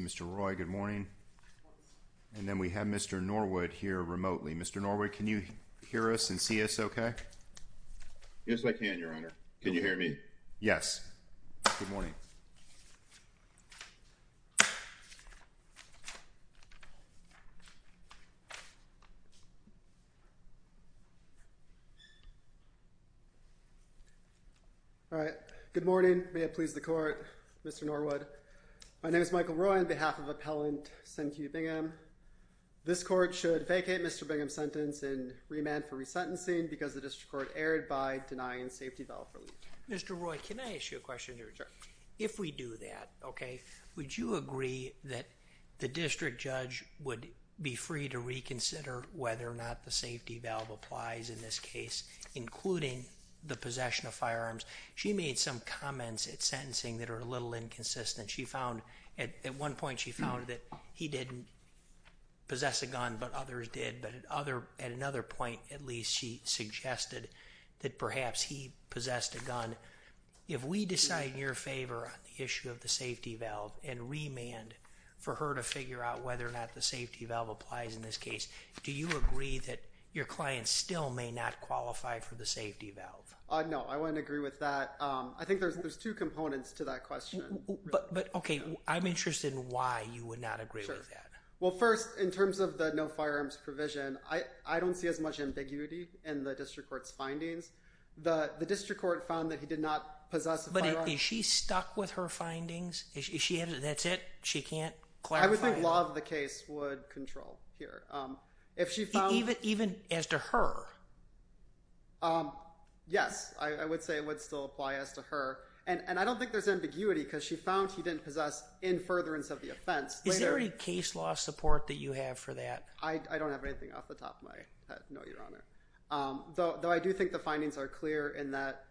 Mr. Roy, good morning. And then we have Mr. Norwood here remotely. Mr. Norwood, can you hear us and see us okay? Yes, I can, Your Honor. Can you hear me? Yes. Good morning. All right. Good morning. May it please the Court, Mr. Norwood. My name is Michael Roy on behalf of Appellant Senque Bingham. This Court should vacate Mr. Bingham's sentence and remand for resentencing because the District Court erred by denying safety valve relief. Mr. Roy, can I ask you a question, Your Honor? If we do that, okay, would you agree that the District Judge would be free to reconsider whether or not the safety valve applies in this case, including the possession of firearms? She made some comments at sentencing that are a little inconsistent. She found, at one point, she found that he didn't possess a gun but others did. But at another point, at least, she suggested that perhaps he possessed a gun. If we decide in your favor on the issue of the safety valve and remand for her to figure out whether or not the safety valve applies in this case, do you agree that your client still may not qualify for the safety valve? No, I wouldn't agree with that. I think there's two components to that question. But, okay, I'm interested in why you would not agree with that. Well, first, in terms of the no firearms provision, I don't see as that he did not possess a firearm. But is she stuck with her findings? That's it? She can't clarify? I would think law of the case would control here. Even as to her? Yes, I would say it would still apply as to her. And I don't think there's ambiguity because she found he didn't possess in furtherance of the offense. Is there any case law support that you have for that? I don't have anything off the top of my head, no, Your Honor. Though I do think the findings are clear in that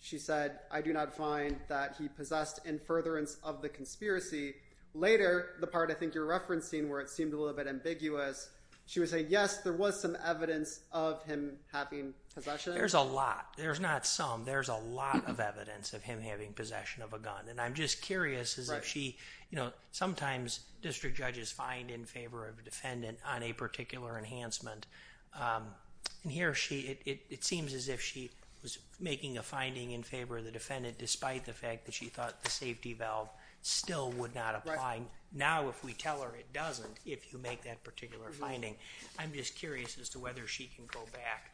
she said, I do not find that he possessed in furtherance of the conspiracy. Later, the part I think you're referencing where it seemed a little bit ambiguous, she would say, yes, there was some evidence of him having possession. There's a lot. There's not some. There's a lot of evidence of him having possession of a gun. And I'm just curious as if she, you know, sometimes district judges find in favor of a defendant on a particular enhancement. And here she, it seems as if she was making a finding in favor of the defendant, despite the fact that she thought the safety valve still would not apply. Now, if we tell her it doesn't, if you make that particular finding, I'm just curious as to whether she can go back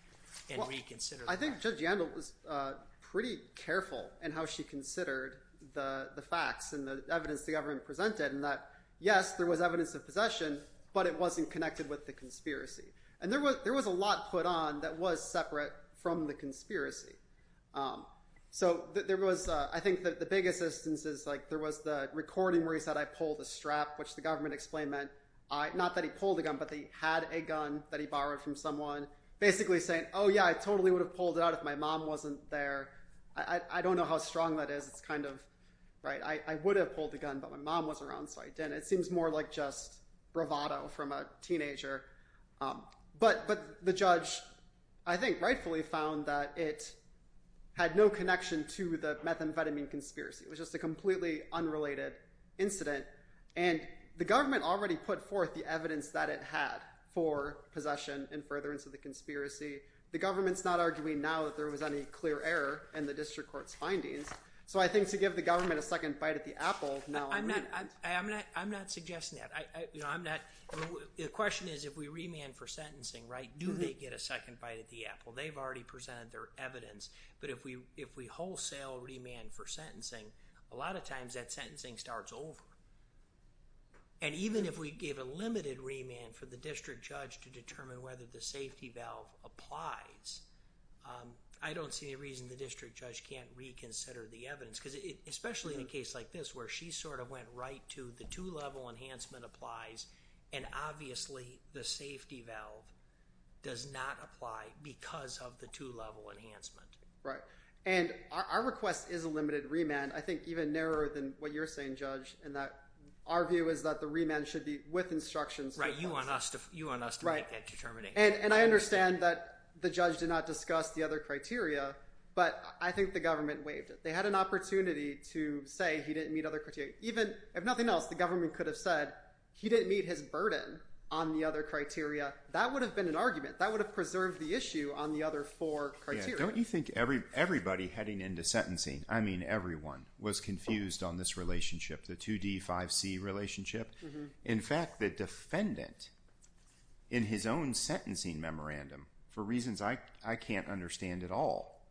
and reconsider. I think Judge Yandel was pretty careful in how she considered the facts and the evidence the government presented and that, yes, there was evidence of possession, but it wasn't connected with the conspiracy. And there was, there was a lot put on that was separate from the conspiracy. So there was, I think that the biggest assistance is like, there was the recording where he said, I pulled the strap, which the government explained meant not that he pulled a gun, but they had a gun that he borrowed from someone basically saying, oh yeah, I totally would have pulled it out if my mom wasn't there. I don't know how strong that is. It's kind of right. I would have pulled the gun, but my mom wasn't around. So I didn't, it seems more like just bravado from a teenager. But, but the judge, I think rightfully found that it had no connection to the methamphetamine conspiracy. It was just a completely unrelated incident and the government already put forth the evidence that it had for possession and furtherance of the conspiracy. The government's not arguing now that there was any clear error in the district court's findings. So I think to give the government a second bite at the apple. I'm not, I'm not, I'm not suggesting that I, you know, I'm not, the question is, if we remand for sentencing, right, do they get a second bite at the apple? They've already presented their evidence. But if we, if we wholesale remand for sentencing, a lot of times that sentencing starts over. And even if we give a limited remand for the district judge to determine whether the safety valve applies, I don't see any reason the district judge can't reconsider the evidence especially in a case like this where she sort of went right to the two level enhancement applies and obviously the safety valve does not apply because of the two level enhancement. Right. And our request is a limited remand. I think even narrower than what you're saying, judge, and that our view is that the remand should be with instructions. Right. You want us to, you want us to make that determination. And I understand that the judge did not discuss the other criteria, but I think the government waived it. They had an opportunity to say he didn't meet other criteria. Even if nothing else, the government could have said he didn't meet his burden on the other criteria. That would have been an argument that would have preserved the issue on the other four criteria. Don't you think every, everybody heading into sentencing, I mean, everyone, was confused on this relationship, the 2D, 5C relationship. In fact, the defendant in his own sentencing memorandum, for reasons I can't understand at all,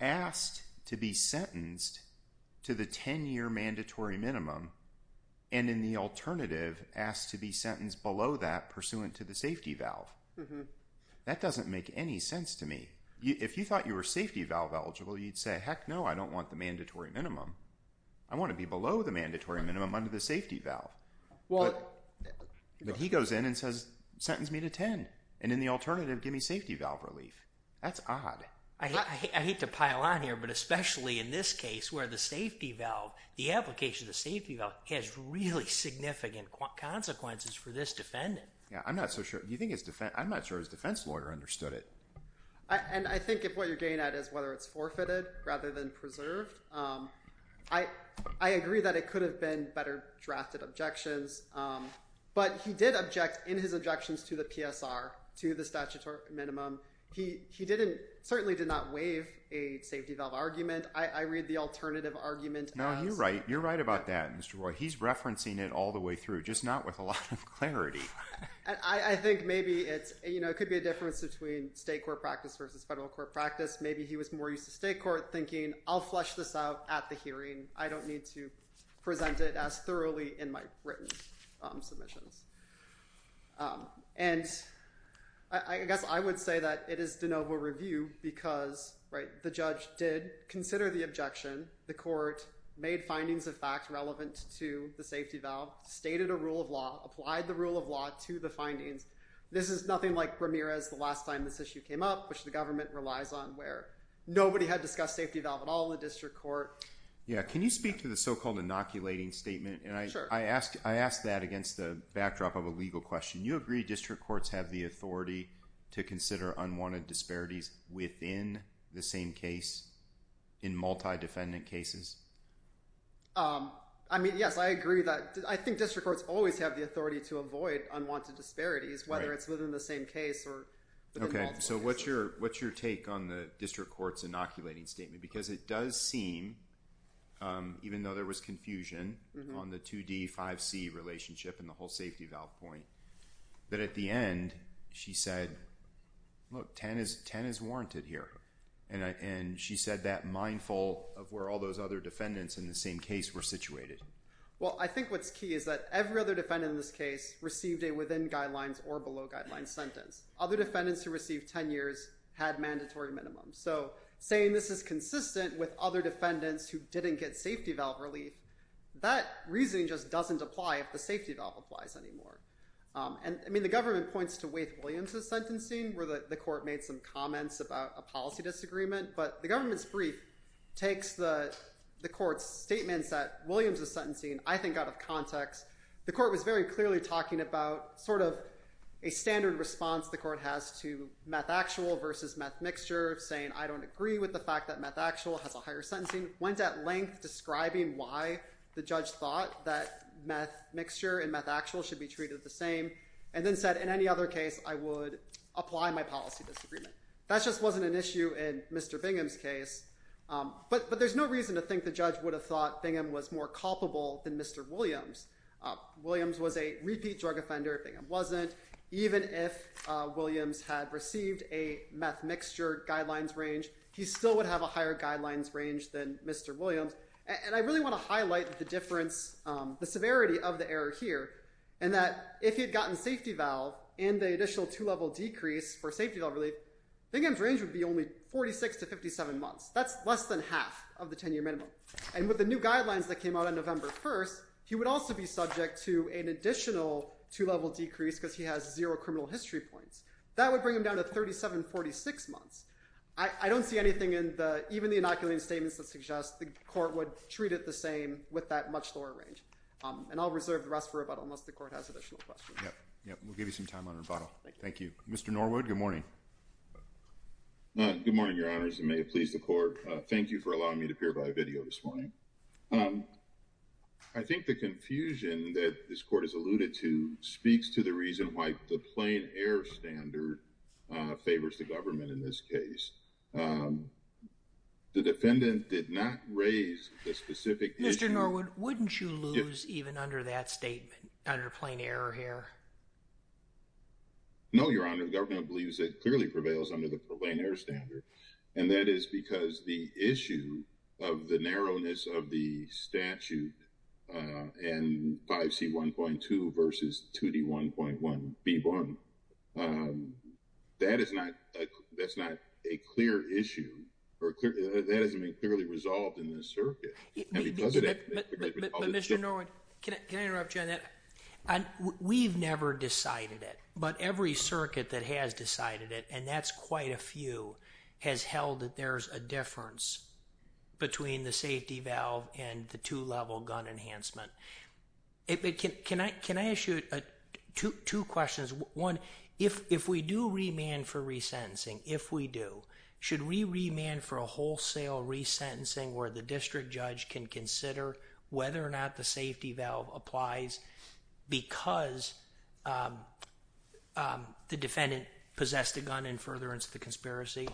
asked to be sentenced to the 10 year mandatory minimum and in the alternative asked to be sentenced below that pursuant to the safety valve. That doesn't make any sense to me. If you thought you were safety valve eligible, you'd say, heck no, I don't want the mandatory minimum. I want to be below the 10. And he goes in and says, sentence me to 10. And in the alternative, give me safety valve relief. That's odd. I hate to pile on here, but especially in this case where the safety valve, the application of the safety valve has really significant consequences for this defendant. Yeah. I'm not so sure. Do you think his defense, I'm not sure his defense lawyer understood it. And I think if what you're getting at is whether it's forfeited rather than preserved. I agree that it could have been better drafted objections. But he did object in his objections to the PSR, to the statutory minimum. He certainly did not waive a safety valve argument. I read the alternative argument. No, you're right. You're right about that, Mr. Roy. He's referencing it all the way through, just not with a lot of clarity. I think maybe it could be a difference between state court practice versus federal court practice. Maybe he was more used to state court thinking, I'll flesh this out at the hearing. I don't need to present it as thoroughly in my written submissions. And I guess I would say that it is de novo review because the judge did consider the objection. The court made findings of fact relevant to the safety valve, stated a rule of law, applied the rule of law to the findings. This is nothing like Ramirez the last time this issue came up, which the government relies on where nobody had discussed safety valve at all in the district court. Yeah. Can you speak to the so-called inoculating statement? And I asked that against the backdrop of a legal question. You agree district courts have the authority to consider unwanted disparities within the same case in multi-defendant cases? I mean, yes, I agree that. I think district courts always have the authority to avoid unwanted disparities, whether it's within the same case or within multiple cases. Okay. So what's your take on the district court's inoculating statement? Because it does seem, even though there was confusion on the 2D, 5C relationship and the whole safety valve point, that at the end, she said, look, 10 is warranted here. And she said that mindful of where all those other defendants in the same case were situated. Well, I think what's key is that every other defendant in this case received a within guidelines or below guidelines sentence. Other defendants who received 10 years had mandatory minimum. So saying this is consistent with other defendants who didn't get safety valve relief, that reasoning just doesn't apply if the safety valve applies anymore. And I mean, the government points to Waithe Williams' sentencing where the court made some comments about a policy disagreement, but the government's brief takes the court's statements that Williams is sentencing, I think out of context. The court was very clearly talking about sort of a standard response the court has to meth actual versus meth mixture saying, I don't agree with the fact that meth actual has a higher sentencing. Went at length describing why the judge thought that meth mixture and meth actual should be treated the same. And then said in any other case, I would apply my policy disagreement. That's just wasn't an issue in Mr. Bingham's case. But there's no reason to think the judge would have thought Bingham was more culpable than Mr. Williams. Williams was a repeat drug offender. Bingham wasn't. Even if Williams had received a meth mixture guidelines range, he still would have a higher guidelines range than Mr. Williams. And I really want to highlight the difference, the severity of the error here, and that if he had gotten safety valve and the additional two level decrease for safety valve relief, Bingham's range would be only 46 to 57 months. That's less than half of the 10 year minimum. And with the new guidelines that came out on November 1st, he would also be subject to an additional two level decrease because he has zero criminal history points. That would bring him down to 37, 46 months. I don't see anything in the, even the inoculating statements that suggest the court would treat it the same with that much lower range. And I'll reserve the rest for rebuttal unless the court has additional questions. Yeah. Yeah. We'll give you some time on rebuttal. Thank you. Mr. Norwood. Good morning. Good morning, your honors. And may it please the court. Thank you for allowing me to appear by video this morning. I think the confusion that this court has alluded to speaks to the reason why the plain error standard favors the government in this case. The defendant did not raise the specific issue. Mr. Norwood, wouldn't you lose even under that statement under plain error here? No, your honor. The government believes it clearly prevails under the plain error standard. And that is because the issue of the narrowness of the statute and 5C1.2 versus 2D1.1B1, that is not, that's not a clear issue or clear. That hasn't been clearly resolved in this circuit. But Mr. Norwood, can I interrupt you on that? We've never decided it, but every circuit that has decided it, and that's quite a few, has held that there's a difference between the safety valve and the two level gun enhancement. Can I ask you two questions? One, if we do remand for resentencing, if we do, should we remand for a wholesale resentencing where the district judge can consider whether or not the safety valve applies because the defendant possessed a gun in furtherance of the conspiracy?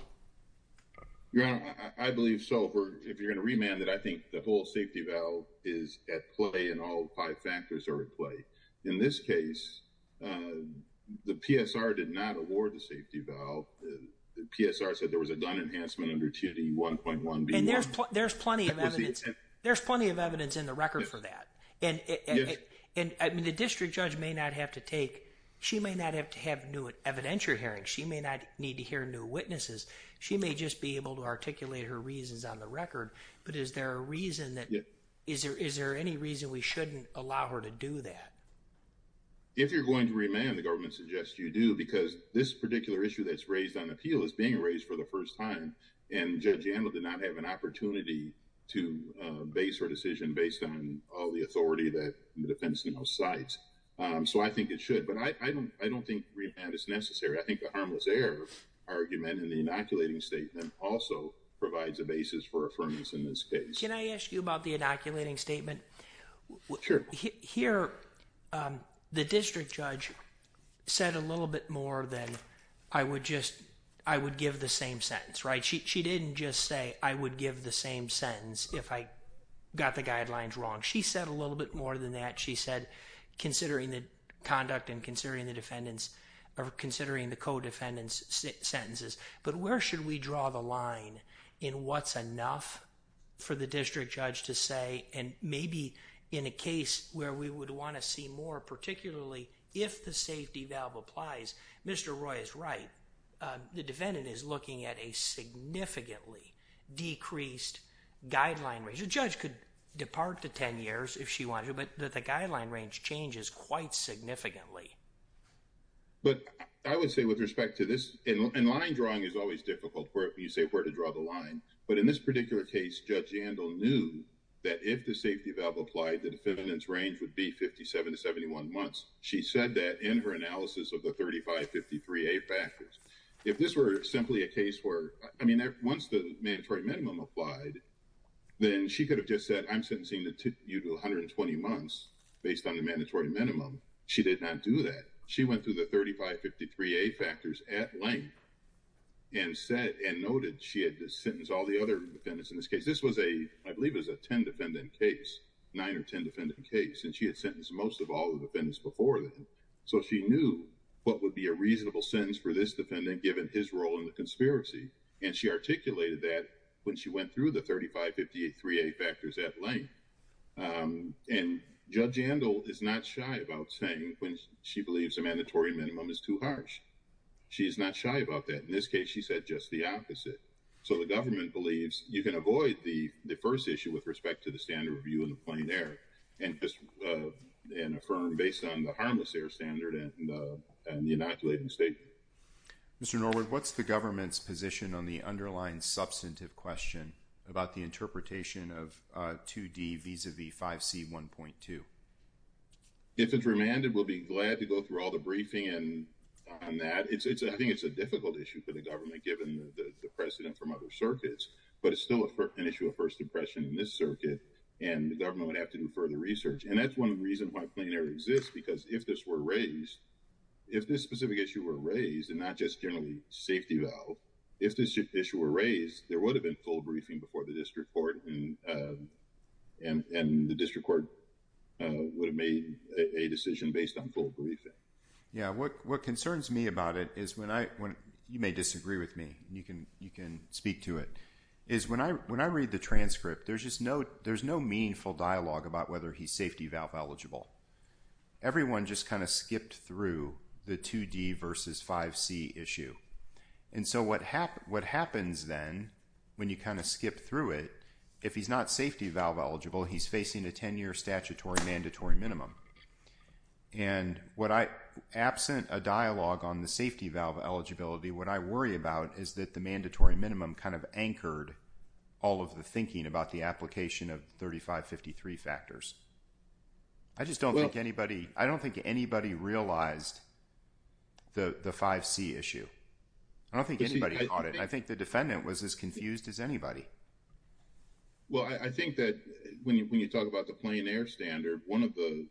Your honor, I believe so. If you're going to remand it, I think the whole safety valve is at play and all five factors are at play. In this case, the PSR did not award the safety valve. The PSR said there was a gun enhancement under 2D1.1B1. And there's plenty of evidence, there's plenty of evidence in the record for that. And the district judge may not have to take, she may not have to have new evidentiary hearings. She may not need to hear new witnesses. She may just be able to articulate her reasons on the record. But is there a reason that, is there any reason we shouldn't allow her to do that? If you're going to remand, the government suggests you do because this particular issue that's raised on appeal is being raised for the first time. And Judge Yandl did not have an opportunity to base her decision based on all the authority that the defense now cites. So, I think it should. But I don't think remand is necessary. I think the harmless error argument in the inoculating statement also provides a basis for affirmance in this case. Can I ask you about the inoculating statement? Sure. Here, the district judge said a little bit more than I would just, I would give the same sentence, right? She didn't just say, I would give the same sentence if I got the guidelines wrong. She said a little bit more than that. She said, considering the conduct and considering the defendants or considering the co-defendants sentences. But where should we draw the line in what's enough for the district judge to say? And maybe in a case where we would want to see more, particularly if the safety valve applies, Mr. Roy is right. The defendant is looking at a significantly decreased guideline range. The judge could depart to 10 years if she wanted, but that the guideline range changes quite significantly. But I would say with respect to this, and line drawing is always difficult where you say where to draw the line. But in this particular case, Judge Jandel knew that if the safety valve applied, the defendant's range would be 57 to 71 months. She said that in her analysis of the 3553A factors. If this were simply a case where, I mean, once the mandatory minimum applied, then she could have just said, I'm sentencing you to 120 months based on the mandatory minimum. She did not do that. She went through the 3553A factors at length and noted she had sentenced all the other defendants in this case. This was a, I believe it was a 10 defendant case, nine or 10 defendant case, and she had sentenced most of all the defendants before then. So she knew what would be a reasonable sentence for this defendant given his role in the conspiracy. And she articulated that when she went through the 3553A factors at length. And Judge Jandel is not shy about saying when she believes the mandatory minimum is too harsh. She's not shy about that. In this case, she said just the opposite. So the government believes you can avoid the first issue with respect to the standard review in the plain air, and affirm based on the harmless air standard and the inoculating statement. Mr. Norwood, what's the government's position on the underlying substantive question about the interpretation of 2D vis-a-vis 5C1.2? If it's remanded, we'll be through all the briefing and on that. It's, I think it's a difficult issue for the government given the precedent from other circuits, but it's still an issue of first impression in this circuit, and the government would have to do further research. And that's one reason why plain air exists because if this were raised, if this specific issue were raised and not just generally safety though, if this issue were raised, there would have been full briefing before the district court and the district court would have made a decision based on full briefing. Yeah, what concerns me about it is when I, you may disagree with me, you can speak to it, is when I read the transcript, there's just no meaningful dialogue about whether he's safety valve eligible. Everyone just kind of skipped through the 2D versus 5C issue. And so what happens then when you kind of skip through it, if he's not safety valve eligible, he's facing a 10-year statutory mandatory minimum. And what I, absent a dialogue on the safety valve eligibility, what I worry about is that the mandatory minimum kind of anchored all of the thinking about the application of 3553 factors. I just don't think anybody, I don't think anybody realized the 5C issue. I don't think anybody caught it. I think the defendant was as confused as anybody. Well, I think that when you, when you talk about the plain air standard, one of the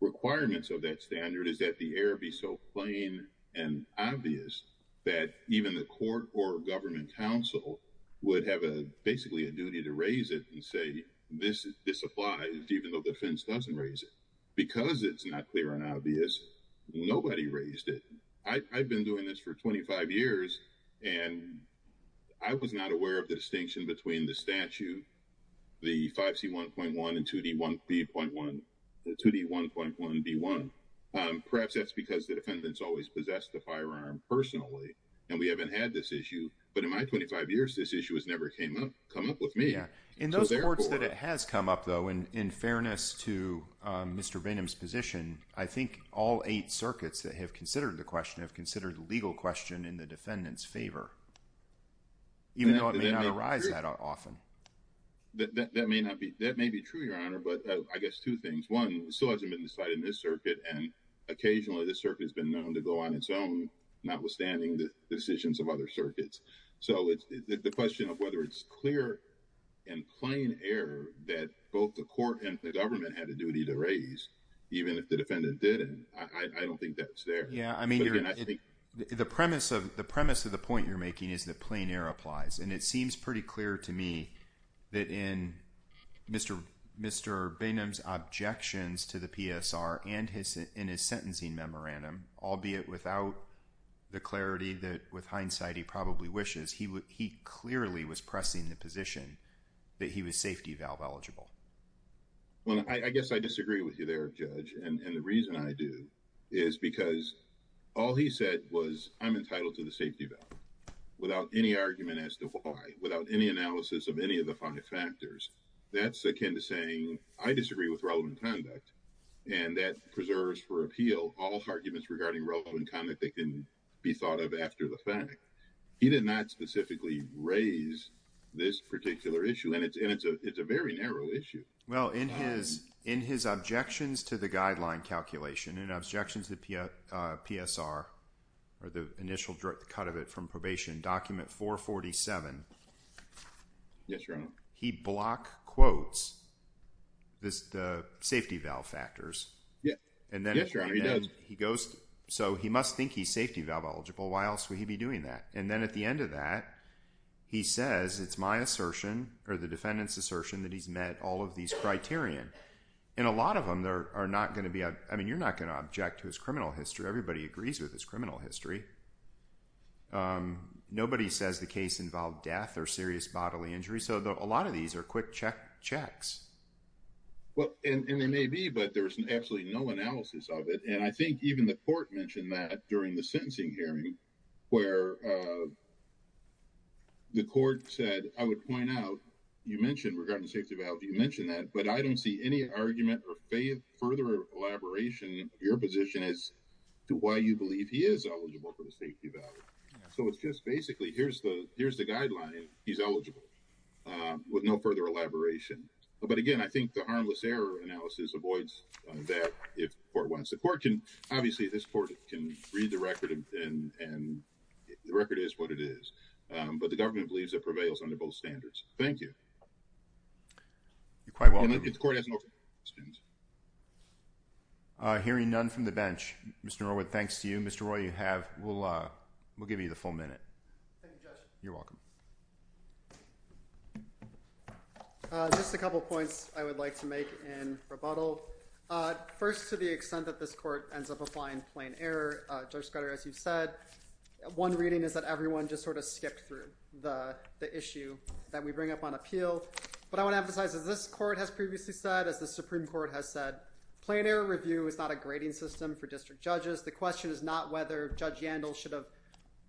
requirements of that standard is that the air be so plain and obvious that even the court or government council would have a, basically a duty to raise it and say, this, this applies, even though the defense doesn't raise it. Because it's not clear and obvious, nobody raised it. I've been doing this for 25 years, and I was not aware of the distinction between the statute, the 5C 1.1 and 2D 1.1, the 2D 1.1 D1. Perhaps that's because the defendants always possessed the firearm personally, and we haven't had this issue. But in my 25 years, this issue has never came up, come up with me. Yeah. In those courts that it has come up though, and in fairness to Mr. Bingham's position, I think all eight circuits that have considered the question have considered the legal question in the defendant's favor, even though it may not arise that often. That may not be, that may be true, Your Honor, but I guess two things. One, it still hasn't been decided in this circuit, and occasionally this circuit has been known to go on notwithstanding the decisions of other circuits. So it's the question of whether it's clear and plain air that both the court and the government had a duty to raise, even if the defendant did. And I don't think that's there. Yeah. I mean, the premise of the premise of the point you're making is that plain air applies, and it seems pretty clear to me that in Mr. Bingham's objections to the PSR and his, his sentencing memorandum, albeit without the clarity that with hindsight, he probably wishes he would, he clearly was pressing the position that he was safety valve eligible. Well, I guess I disagree with you there, Judge. And the reason I do is because all he said was I'm entitled to the safety valve without any argument as to why, without any analysis of any of the five factors that's akin to saying, I disagree with relevant conduct. And that preserves for appeal, all arguments regarding relevant conduct, they can be thought of after the fact. He did not specifically raise this particular issue. And it's, it's a, it's a very narrow issue. Well, in his, in his objections to the guideline calculation and objections to the PSR, or the initial direct cut of it from probation document 447. Yes, Your Honor. He block quotes, this, the safety valve factors. Yeah. And then he goes, so he must think he's safety valve eligible. Why else would he be doing that? And then at the end of that, he says, it's my assertion or the defendant's assertion that he's met all of these criterion. And a lot of them there are not going to be, I mean, you're not going to object to his criminal history. Everybody agrees with his criminal history. Nobody says the case involved death or serious bodily injury. So a lot of these are quick check checks. Well, and they may be, but there's an absolutely no analysis of it. And I think even the court mentioned that during the sentencing hearing, where the court said, I would point out, you mentioned regarding the safety valve, you mentioned that, but I don't see any argument or faith, elaboration of your position as to why you believe he is eligible for the safety valve. So it's just basically, here's the, here's the guideline. He's eligible with no further elaboration. But again, I think the harmless error analysis avoids that if the court wants. The court can, obviously this court can read the record and, and the record is what it is. But the government believes that prevails under both standards. Thank you. You're quite welcome. I'm hearing none from the bench, Mr. Norwood. Thanks to you, Mr. Roy, you have, we'll we'll give you the full minute. You're welcome. Just a couple of points I would like to make in rebuttal. First, to the extent that this court ends up applying plain error, Judge Scudder, as you've said, one reading is that everyone just sort of skipped through the issue that we bring up on appeal. But I want to this court has previously said, as the Supreme Court has said, plain error review is not a grading system for district judges. The question is not whether Judge Yandel should have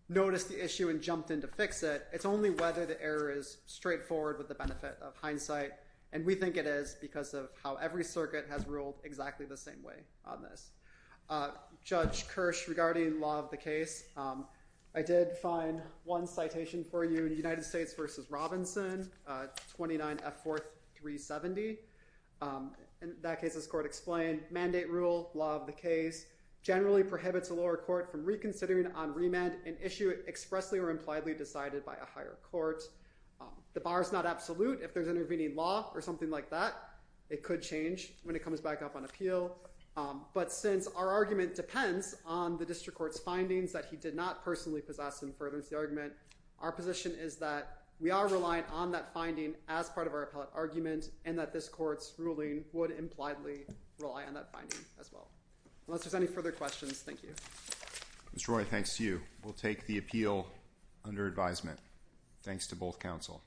noticed the issue and jumped in to fix it. It's only whether the error is straightforward with the benefit of hindsight. And we think it is because of how every circuit has ruled exactly the same way on this. Judge Kirsch regarding law of the case. I did find one citation for you, United States v. Robinson, 29F4-370. In that case, as the court explained, mandate rule, law of the case, generally prohibits a lower court from reconsidering on remand an issue expressly or impliedly decided by a higher court. The bar is not absolute. If there's intervening law or something like that, it could change when it comes back up on appeal. But since our argument depends on the district court's findings that he did not personally possess and furthers the argument, our position is that we are relying on that finding as part of our argument and that this court's ruling would impliedly rely on that finding as well. Unless there's any further questions, thank you. Mr. Roy, thanks to you. We'll take the appeal under advisement. Thanks to both counsel.